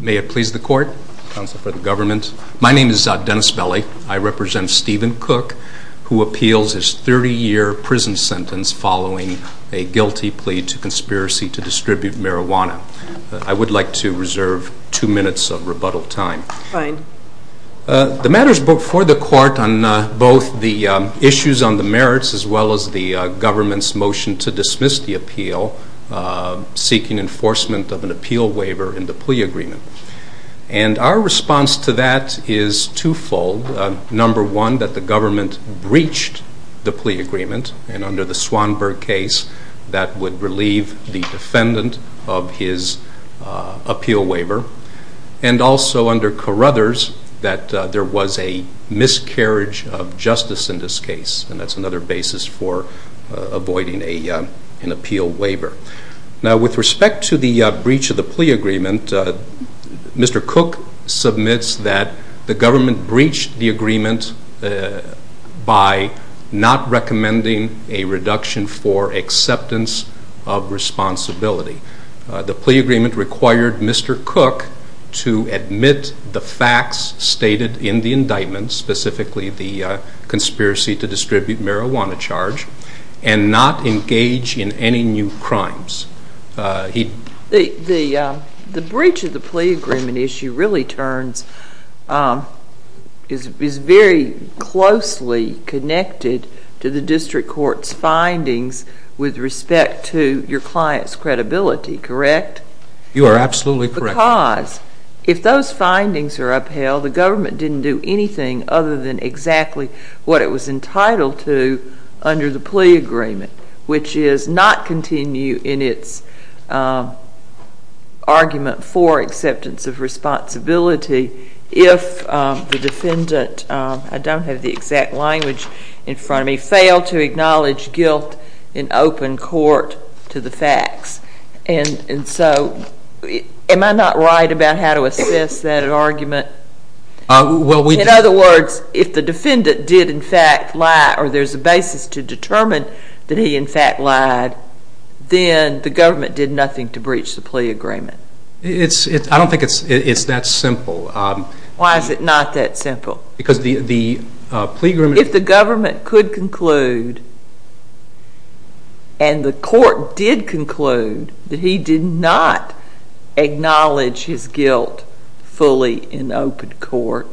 May it please the court, counsel for the government. My name is Dennis Belli, I represent Stephen Cook who appeals his 30 year prison sentence following a guilty plea to conspiracy to distribute marijuana. I would like to reserve two minutes of rebuttal time. The matter is before the court on both the issues on the merits as well as the government's motion to dismiss the appeal seeking enforcement of an appeal waiver in the plea agreement. And our response to that is twofold. Number one, that the government breached the plea agreement and under the Swanberg case that would relieve the defendant of his appeal waiver. And also under Carruthers that there was a miscarriage of justice in this case and that's another basis for avoiding an appeal waiver. Now with respect to the breach of the plea agreement, Mr. Cook submits that the government breached the agreement by not recommending a reduction for acceptance of responsibility. The plea agreement required Mr. Cook to admit the facts stated in the indictment, specifically the conspiracy to distribute marijuana charge and not engage in any new crimes. The breach of the plea agreement issue really turns, is very closely connected to the district court's findings with respect to your client's credibility, correct? You are absolutely correct. Because if those findings are upheld, the government didn't do anything other than exactly what it was entitled to under the plea agreement, which is not continue in its argument for acceptance of responsibility if the defendant, I don't have the exact language in front of me, failed to acknowledge guilt in open court to the facts. And so am I not right about how to assess that argument? In other words, if the defendant did in fact lie or there's a basis to determine that he in fact lied, then the government did nothing to breach the plea agreement. I don't think it's that simple. Why is it not that simple? Because the plea agreement... And the court did conclude that he did not acknowledge his guilt fully in open court,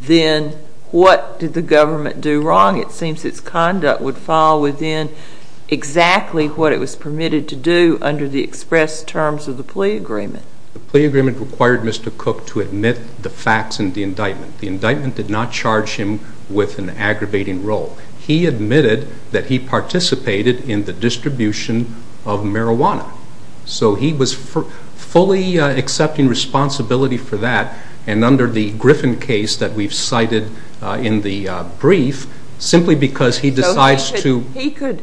then what did the government do wrong? It seems its conduct would fall within exactly what it was permitted to do under the express terms of the plea agreement. The plea agreement required Mr. Cook to admit the facts in the indictment. The indictment did not charge him with an aggravating role. He admitted that he participated in the distribution of marijuana. So he was fully accepting responsibility for that, and under the Griffin case that we've cited in the brief, simply because he decides to...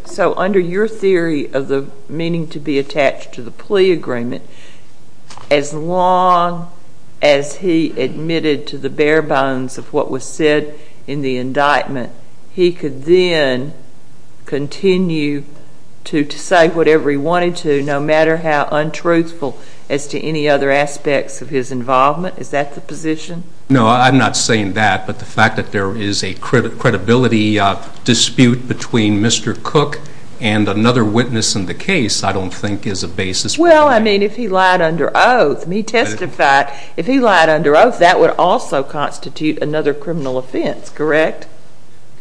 So under your theory of the meaning to be attached to the plea agreement, as long as he admitted to the bare bones of what was said in the indictment, he could then continue to say whatever he wanted to, no matter how untruthful as to any other aspects of his involvement? Is that the position? No, I'm not saying that, but the fact that there is a credibility dispute between Mr. Cook and another witness in the case, I don't think is a basis for that. Well, I mean, if he lied under oath, and he testified, if he lied under oath, that would also constitute another criminal offense, correct?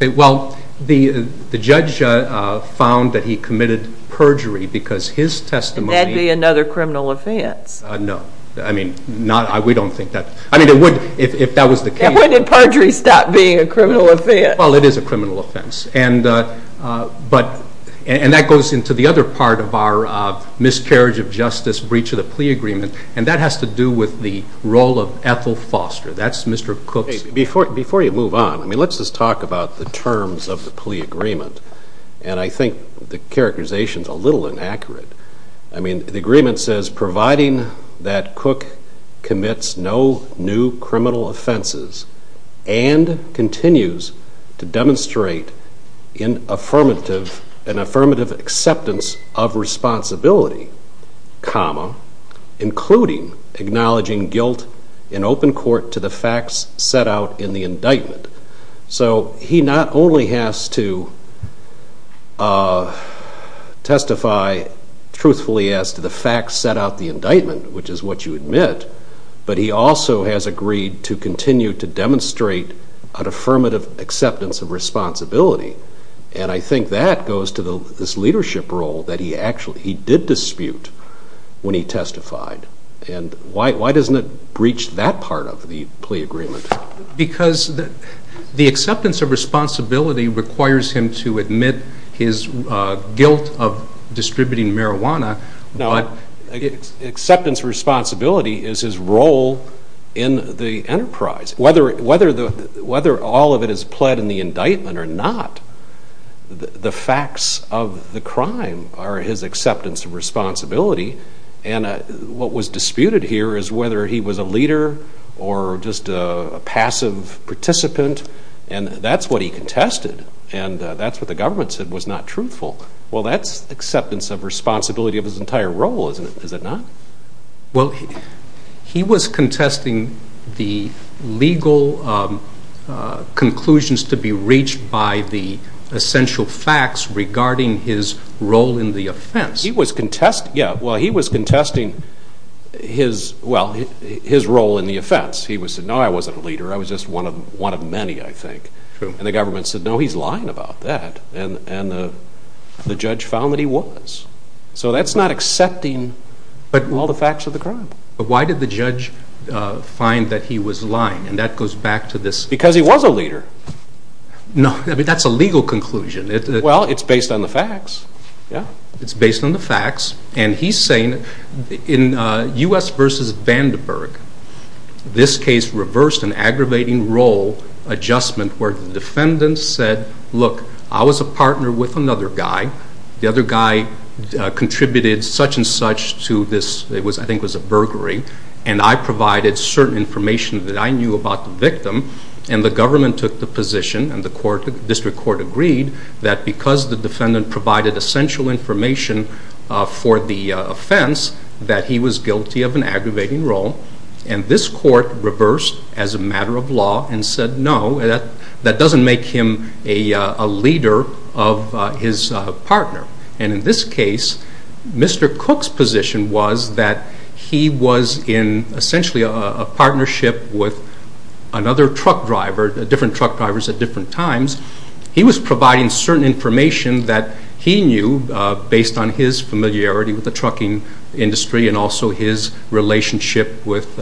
Well, the judge found that he committed perjury because his testimony... And that would be another criminal offense? No. I mean, we don't think that... I mean, if that was the case... Then why did perjury stop being a criminal offense? Well, it is a criminal offense. And that goes into the other part of our miscarriage of justice, breach of the plea agreement, and that has to do with the role of Ethel Foster. That's Mr. Cook's... Before you move on, I mean, let's just talk about the terms of the plea agreement, and I think the characterization is a little inaccurate. I mean, the agreement says, providing that Cook commits no new criminal offenses and continues to demonstrate an affirmative acceptance of responsibility, including acknowledging guilt in open court to the facts set out in the indictment. So, he not only has to testify truthfully as to the facts set out in the indictment, which is what you admit, but he also has agreed to continue to demonstrate an affirmative acceptance of responsibility. And I think that goes to this leadership role that he did dispute when he testified. And why doesn't it breach that part of the plea agreement? Because the acceptance of responsibility requires him to admit his guilt of distributing marijuana. No, acceptance of responsibility is his role in the enterprise. Whether all of it is pled in the indictment or not, the facts of the crime are his acceptance of responsibility, and what was disputed here is whether he was a leader or just a passive participant, and that's what he contested, and that's what the government said was not truthful. Well, that's acceptance of responsibility of his entire role, isn't it? Is it not? Well, he was contesting the legal conclusions to be reached by the essential facts regarding his role in the offense. Yeah, well, he was contesting his role in the offense. He said, no, I wasn't a leader. I was just one of many, I think. True. And the government said, no, he's lying about that, and the judge found that he was. So that's not accepting all the facts of the crime. But why did the judge find that he was lying, and that goes back to this... Because he was a leader. No, I mean, that's a legal conclusion. Well, it's based on the facts, yeah. It's based on the facts, and he's saying in U.S. v. Vandenberg, this case reversed an aggravating role adjustment where the defendant said, look, I was a partner with another guy. The other guy contributed such and such to this, I think it was a burglary, and I provided certain information that I knew about the victim, and the government took the position, and the district court agreed, that because the defendant provided essential information for the offense, that he was guilty of an aggravating role, and this court reversed as a matter of law and said, no, that doesn't make him a leader of his partner. And in this case, Mr. Cook's position was that he was in essentially a partnership with another truck driver, different truck drivers at different times. He was providing certain information that he knew based on his familiarity with the trucking industry and also his relationship with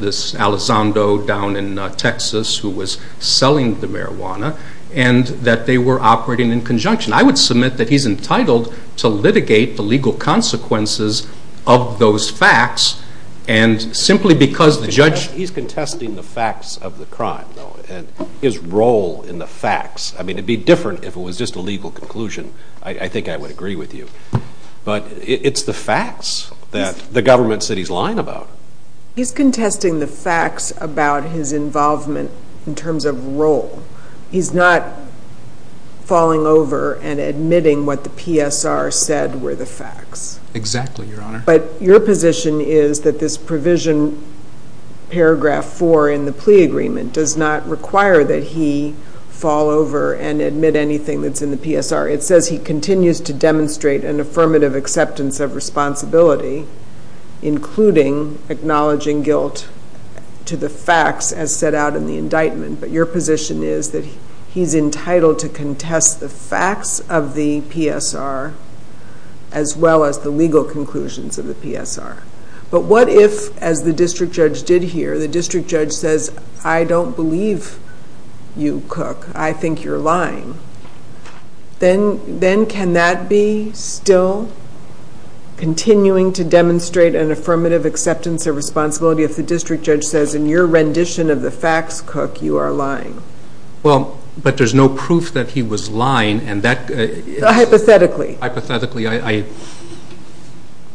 this Alessandro down in Texas who was selling the marijuana, and that they were operating in conjunction. I would submit that he's entitled to litigate the legal consequences of those facts, and simply because the judge- He's contesting the facts of the crime, though, and his role in the facts. I mean, it would be different if it was just a legal conclusion. I think I would agree with you, but it's the facts that the government said he's lying about. He's contesting the facts about his involvement in terms of role. He's not falling over and admitting what the PSR said were the facts. Exactly, Your Honor. But your position is that this provision, paragraph 4 in the plea agreement, does not require that he fall over and admit anything that's in the PSR. It says he continues to demonstrate an affirmative acceptance of responsibility, including acknowledging guilt to the facts as set out in the indictment. But your position is that he's entitled to contest the facts of the PSR as well as the legal conclusions of the PSR. But what if, as the district judge did here, the district judge says, I don't believe you, Cook. I think you're lying. Then can that be still continuing to demonstrate an affirmative acceptance of responsibility if the district judge says in your rendition of the facts, Cook, you are lying? Well, but there's no proof that he was lying, and that- Hypothetically. Hypothetically. Hypothetically,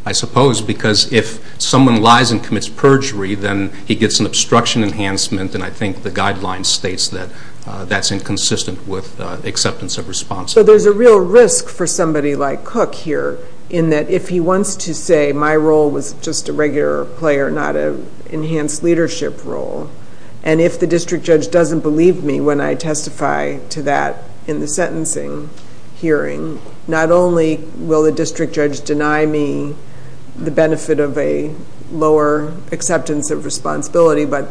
I suppose, because if someone lies and commits perjury, then he gets an obstruction enhancement, and I think the guideline states that that's inconsistent with acceptance of responsibility. So there's a real risk for somebody like Cook here in that if he wants to say my role was just a regular player, not an enhanced leadership role, and if the district judge doesn't believe me when I testify to that in the sentencing hearing, not only will the district judge deny me the benefit of a lower acceptance of responsibility, but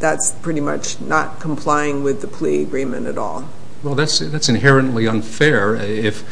that's pretty much not complying with the plea agreement at all. Well, that's inherently unfair. If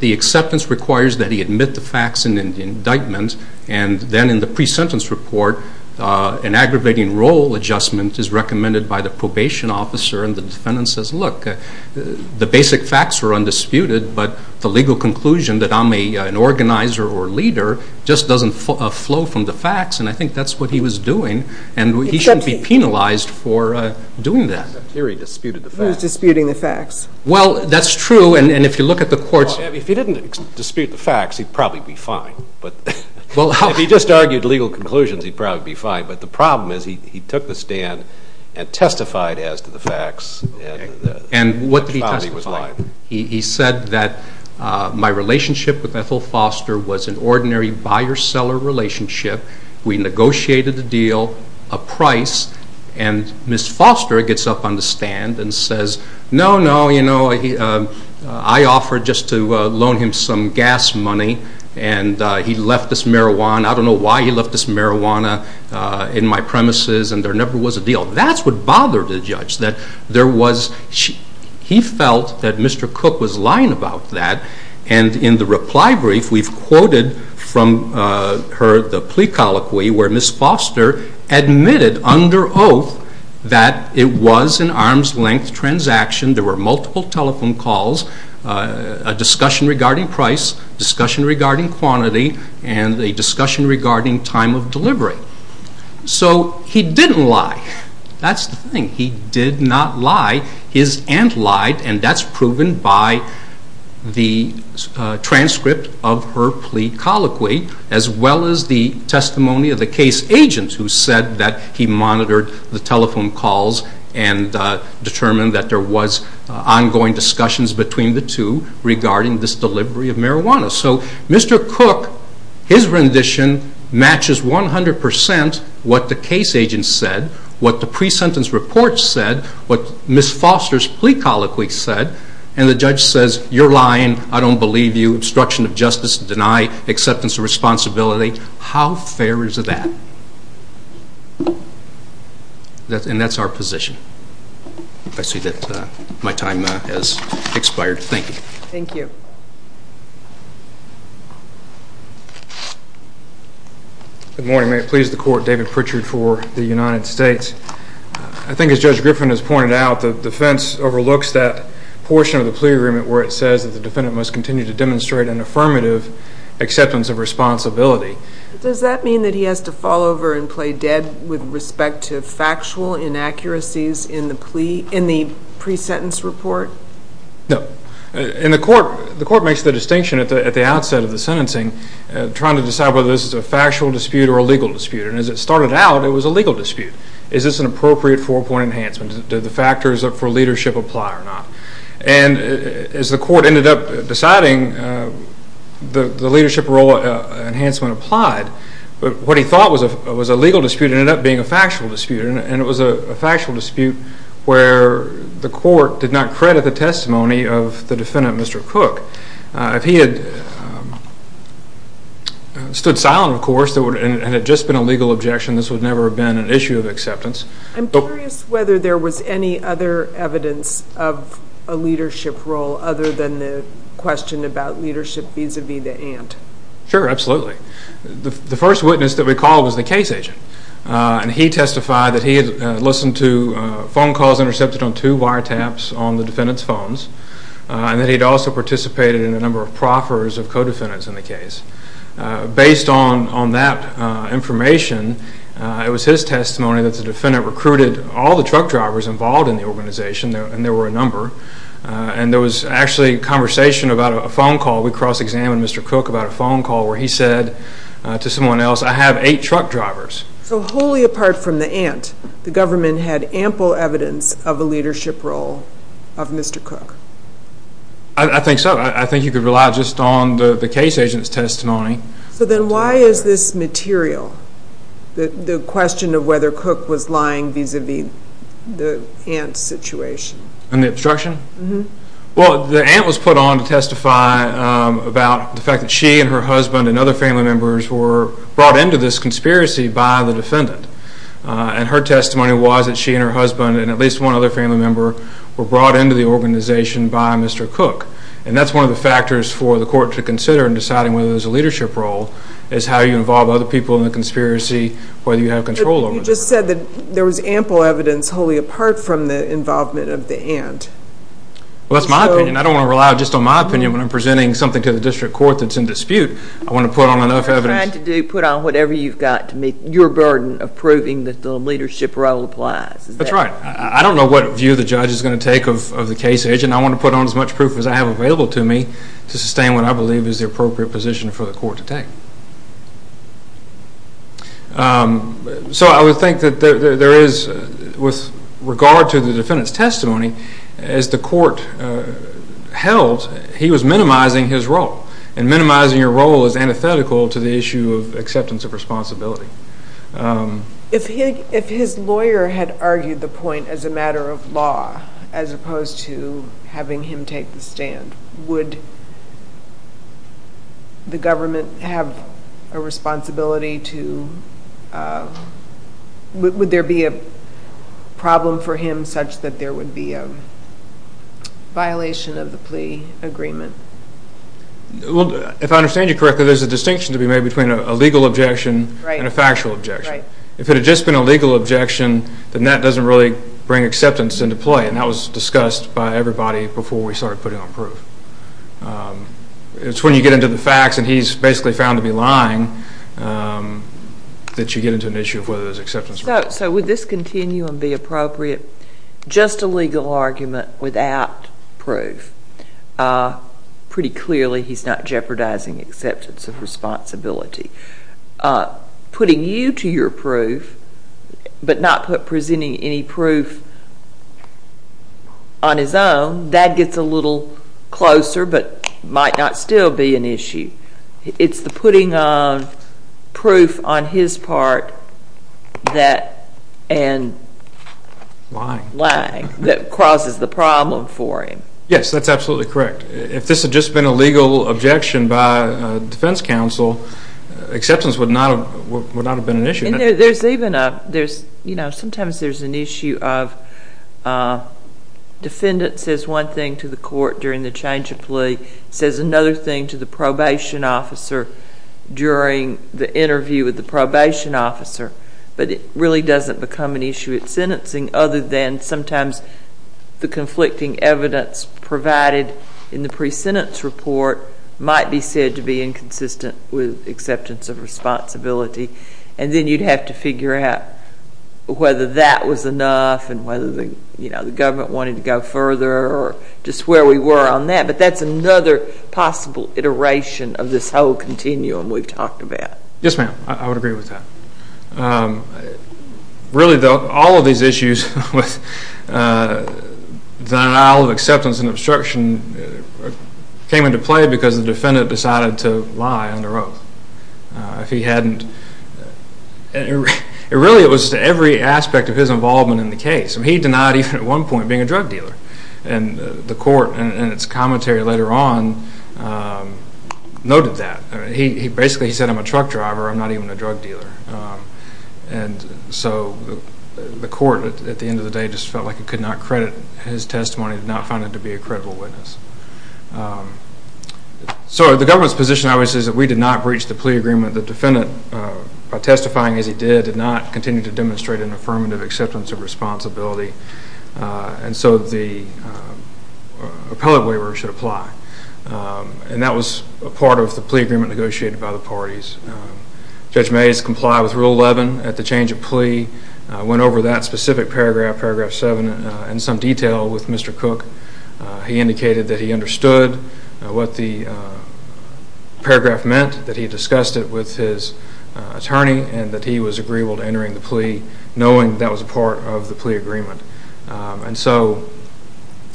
the acceptance requires that he admit the facts in the indictment, and then in the pre-sentence report an aggravating role adjustment is recommended by the probation officer and the defendant says, look, the basic facts were undisputed, but the legal conclusion that I'm an organizer or leader just doesn't flow from the facts, and I think that's what he was doing, and he shouldn't be penalized for doing that. It's not clear he disputed the facts. He was disputing the facts. Well, that's true, and if you look at the courts- If he didn't dispute the facts, he'd probably be fine. If he just argued legal conclusions, he'd probably be fine, but the problem is he took the stand and testified as to the facts. And what did he testify? He said that my relationship with Ethel Foster was an ordinary buyer-seller relationship. We negotiated a deal, a price, and Ms. Foster gets up on the stand and says, no, no, you know, I offered just to loan him some gas money, and he left us marijuana. I don't know why he left us marijuana in my premises, and there never was a deal. That's what bothered the judge, that there was-he felt that Mr. Cook was lying about that, and in the reply brief we've quoted from her the plea colloquy where Ms. Foster admitted under oath that it was an arm's-length transaction. There were multiple telephone calls, a discussion regarding price, a discussion regarding quantity, and a discussion regarding time of delivery. So he didn't lie. That's the thing. He did not lie. His aunt lied, and that's proven by the transcript of her plea colloquy as well as the testimony of the case agent who said that he monitored the telephone calls and determined that there was ongoing discussions between the two regarding this delivery of marijuana. So Mr. Cook, his rendition matches 100% what the case agent said, what the pre-sentence report said, what Ms. Foster's plea colloquy said, and the judge says, you're lying, I don't believe you, obstruction of justice, deny acceptance of responsibility. How fair is that? And that's our position. I see that my time has expired. Thank you. Thank you. Good morning. May it please the Court, David Pritchard for the United States. I think as Judge Griffin has pointed out, the defense overlooks that portion of the plea agreement where it says that the defendant must continue to demonstrate an affirmative acceptance of responsibility. Does that mean that he has to fall over and play dead with respect to factual inaccuracies in the pre-sentence report? No. And the Court makes the distinction at the outset of the sentencing trying to decide whether this is a factual dispute or a legal dispute. And as it started out, it was a legal dispute. Is this an appropriate four-point enhancement? Did the factors for leadership apply or not? And as the Court ended up deciding, the leadership role enhancement applied. But what he thought was a legal dispute ended up being a factual dispute, and it was a factual dispute where the Court did not credit the testimony of the defendant, Mr. Cook. If he had stood silent, of course, and it had just been a legal objection, this would never have been an issue of acceptance. I'm curious whether there was any other evidence of a leadership role other than the question about leadership vis-à-vis the aunt. Sure, absolutely. The first witness that we called was the case agent, and he testified that he had listened to phone calls intercepted on two wiretaps on the defendant's phones, and that he had also participated in a number of proffers of co-defendants in the case. Based on that information, it was his testimony that the defendant recruited all the truck drivers involved in the organization, and there were a number. And there was actually a conversation about a phone call. We cross-examined Mr. Cook about a phone call where he said to someone else, I have eight truck drivers. So wholly apart from the aunt, the government had ample evidence of a leadership role of Mr. Cook. I think so. I think you could rely just on the case agent's testimony. So then why is this material, the question of whether Cook was lying vis-à-vis the aunt's situation? And the obstruction? Well, the aunt was put on to testify about the fact that she and her husband and other family members were brought into this conspiracy by the defendant. And her testimony was that she and her husband and at least one other family member were brought into the organization by Mr. Cook. And that's one of the factors for the court to consider in deciding whether there's a leadership role is how you involve other people in the conspiracy, whether you have control over them. But you just said that there was ample evidence wholly apart from the involvement of the aunt. Well, that's my opinion. I don't want to rely just on my opinion. When I'm presenting something to the district court that's in dispute, I want to put on enough evidence. You're trying to put on whatever you've got to meet your burden of proving that the leadership role applies. That's right. I don't know what view the judge is going to take of the case agent. I want to put on as much proof as I have available to me to sustain what I believe is the appropriate position for the court to take. So I would think that there is, with regard to the defendant's testimony, as the court held, he was minimizing his role. And minimizing your role is antithetical to the issue of acceptance of responsibility. If his lawyer had argued the point as a matter of law as opposed to having him take the stand, would the government have a responsibility to, would there be a problem for him such that there would be a violation of the plea agreement? Well, if I understand you correctly, there's a distinction to be made between a legal objection and a factual objection. If it had just been a legal objection, then that doesn't really bring acceptance into play, and that was discussed by everybody before we started putting on proof. It's when you get into the facts, and he's basically found to be lying, that you get into an issue of whether there's acceptance or not. So would this continuum be appropriate? Just a legal argument without proof. Pretty clearly, he's not jeopardizing acceptance of responsibility. Putting you to your proof, but not presenting any proof on his own, that gets a little closer but might not still be an issue. It's the putting of proof on his part and lying that causes the problem for him. Yes, that's absolutely correct. If this had just been a legal objection by a defense counsel, acceptance would not have been an issue. Sometimes there's an issue of defendant says one thing to the court during the change of plea, says another thing to the probation officer during the interview with the probation officer, but it really doesn't become an issue at sentencing other than sometimes the conflicting evidence provided in the pre-sentence report might be said to be inconsistent with acceptance of responsibility, and then you'd have to figure out whether that was enough and whether the government wanted to go further or just where we were on that, but that's another possible iteration of this whole continuum we've talked about. Yes, ma'am, I would agree with that. Really, though, all of these issues with denial of acceptance and obstruction came into play because the defendant decided to lie under oath. If he hadn't, really it was to every aspect of his involvement in the case. He denied even at one point being a drug dealer, and the court in its commentary later on noted that. Basically he said, I'm a truck driver, I'm not even a drug dealer, and so the court at the end of the day just felt like it could not credit his testimony, did not find him to be a credible witness. So the government's position obviously is that we did not breach the plea agreement. The defendant, by testifying as he did, did not continue to demonstrate an affirmative acceptance of responsibility, and so the appellate waiver should apply, and that was a part of the plea agreement negotiated by the parties. Judge Mays complied with Rule 11 at the change of plea, went over that specific paragraph, Paragraph 7, in some detail with Mr. Cook. He indicated that he understood what the paragraph meant, that he discussed it with his attorney, and that he was agreeable to entering the plea knowing that was a part of the plea agreement. And so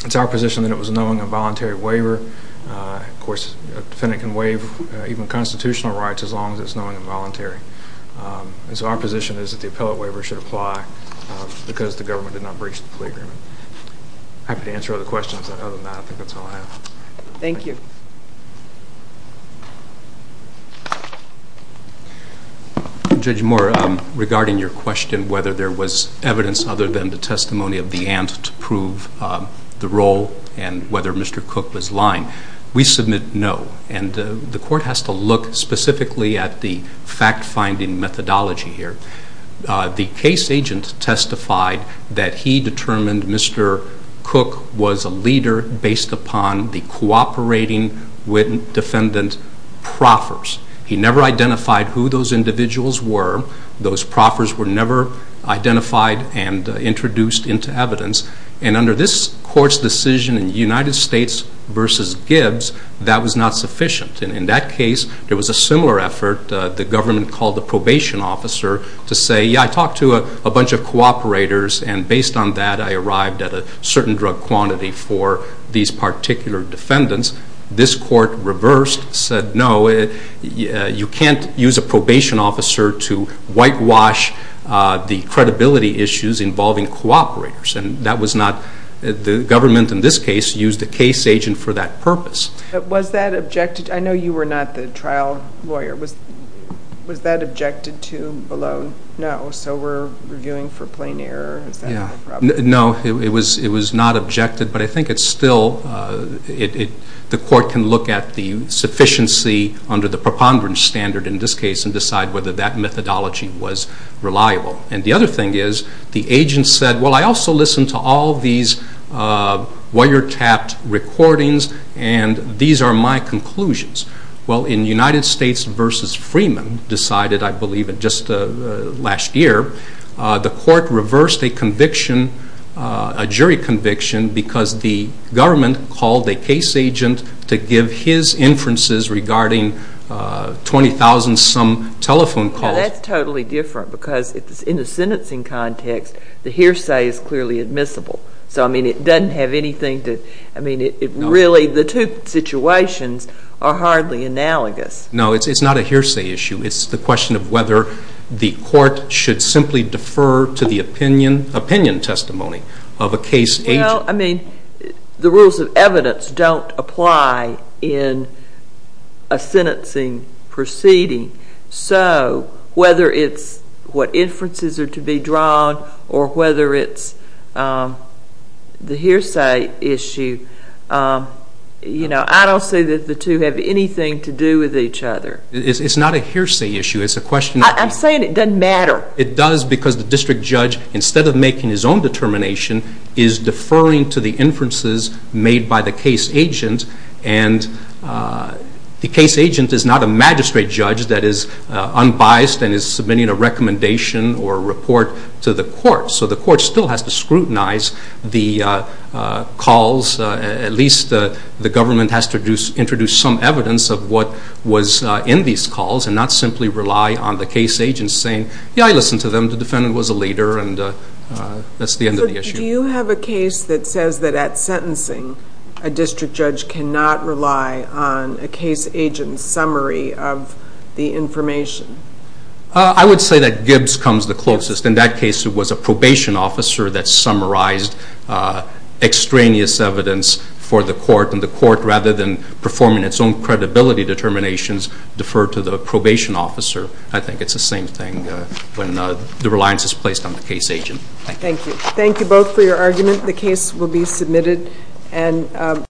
it's our position that it was a knowing and voluntary waiver. Of course, a defendant can waive even constitutional rights as long as it's knowing and voluntary. And so our position is that the appellate waiver should apply because the government did not breach the plea agreement. I'm happy to answer other questions. Other than that, I think that's all I have. Thank you. Judge Moore, regarding your question, whether there was evidence other than the testimony of the ant to prove the role and whether Mr. Cook was lying, we submit no. And the court has to look specifically at the fact-finding methodology here. The case agent testified that he determined Mr. Cook was a leader based upon the cooperating defendant proffers. He never identified who those individuals were. Those proffers were never identified and introduced into evidence. And under this court's decision in United States v. Gibbs, that was not sufficient. And in that case, there was a similar effort. The government called the probation officer to say, yeah, I talked to a bunch of cooperators, and based on that I arrived at a certain drug quantity for these particular defendants. This court reversed, said no, you can't use a probation officer to whitewash the credibility issues involving cooperators. And that was not the government in this case used a case agent for that purpose. Was that objected to? I know you were not the trial lawyer. Was that objected to below no? So we're reviewing for plain error? No, it was not objected, but I think it's still, the court can look at the sufficiency under the preponderance standard in this case and decide whether that methodology was reliable. And the other thing is, the agent said, well, I also listened to all these wiretapped recordings, and these are my conclusions. Well, in United States v. Freeman decided, I believe, just last year, the court reversed a conviction, a jury conviction, because the government called a case agent to give his inferences regarding 20,000-some telephone calls. That's totally different, because in the sentencing context, the hearsay is clearly admissible. So, I mean, it doesn't have anything to, I mean, really the two situations are hardly analogous. No, it's not a hearsay issue. It's the question of whether the court should simply defer to the opinion testimony of a case agent. Well, I mean, the rules of evidence don't apply in a sentencing proceeding. So whether it's what inferences are to be drawn or whether it's the hearsay issue, you know, I don't see that the two have anything to do with each other. It's not a hearsay issue. I'm saying it doesn't matter. It does because the district judge, instead of making his own determination, is deferring to the inferences made by the case agent. And the case agent is not a magistrate judge that is unbiased and is submitting a recommendation or a report to the court. So the court still has to scrutinize the calls. At least the government has to introduce some evidence of what was in these calls and not simply rely on the case agent saying, yeah, I listened to them, the defendant was a leader, and that's the end of the issue. Do you have a case that says that at sentencing, a district judge cannot rely on a case agent's summary of the information? I would say that Gibbs comes the closest. In that case, it was a probation officer that summarized extraneous evidence for the court, and the court, rather than performing its own credibility determinations, deferred to the probation officer. I think it's the same thing when the reliance is placed on the case agent. Thank you. Thank you both for your argument. The case will be submitted.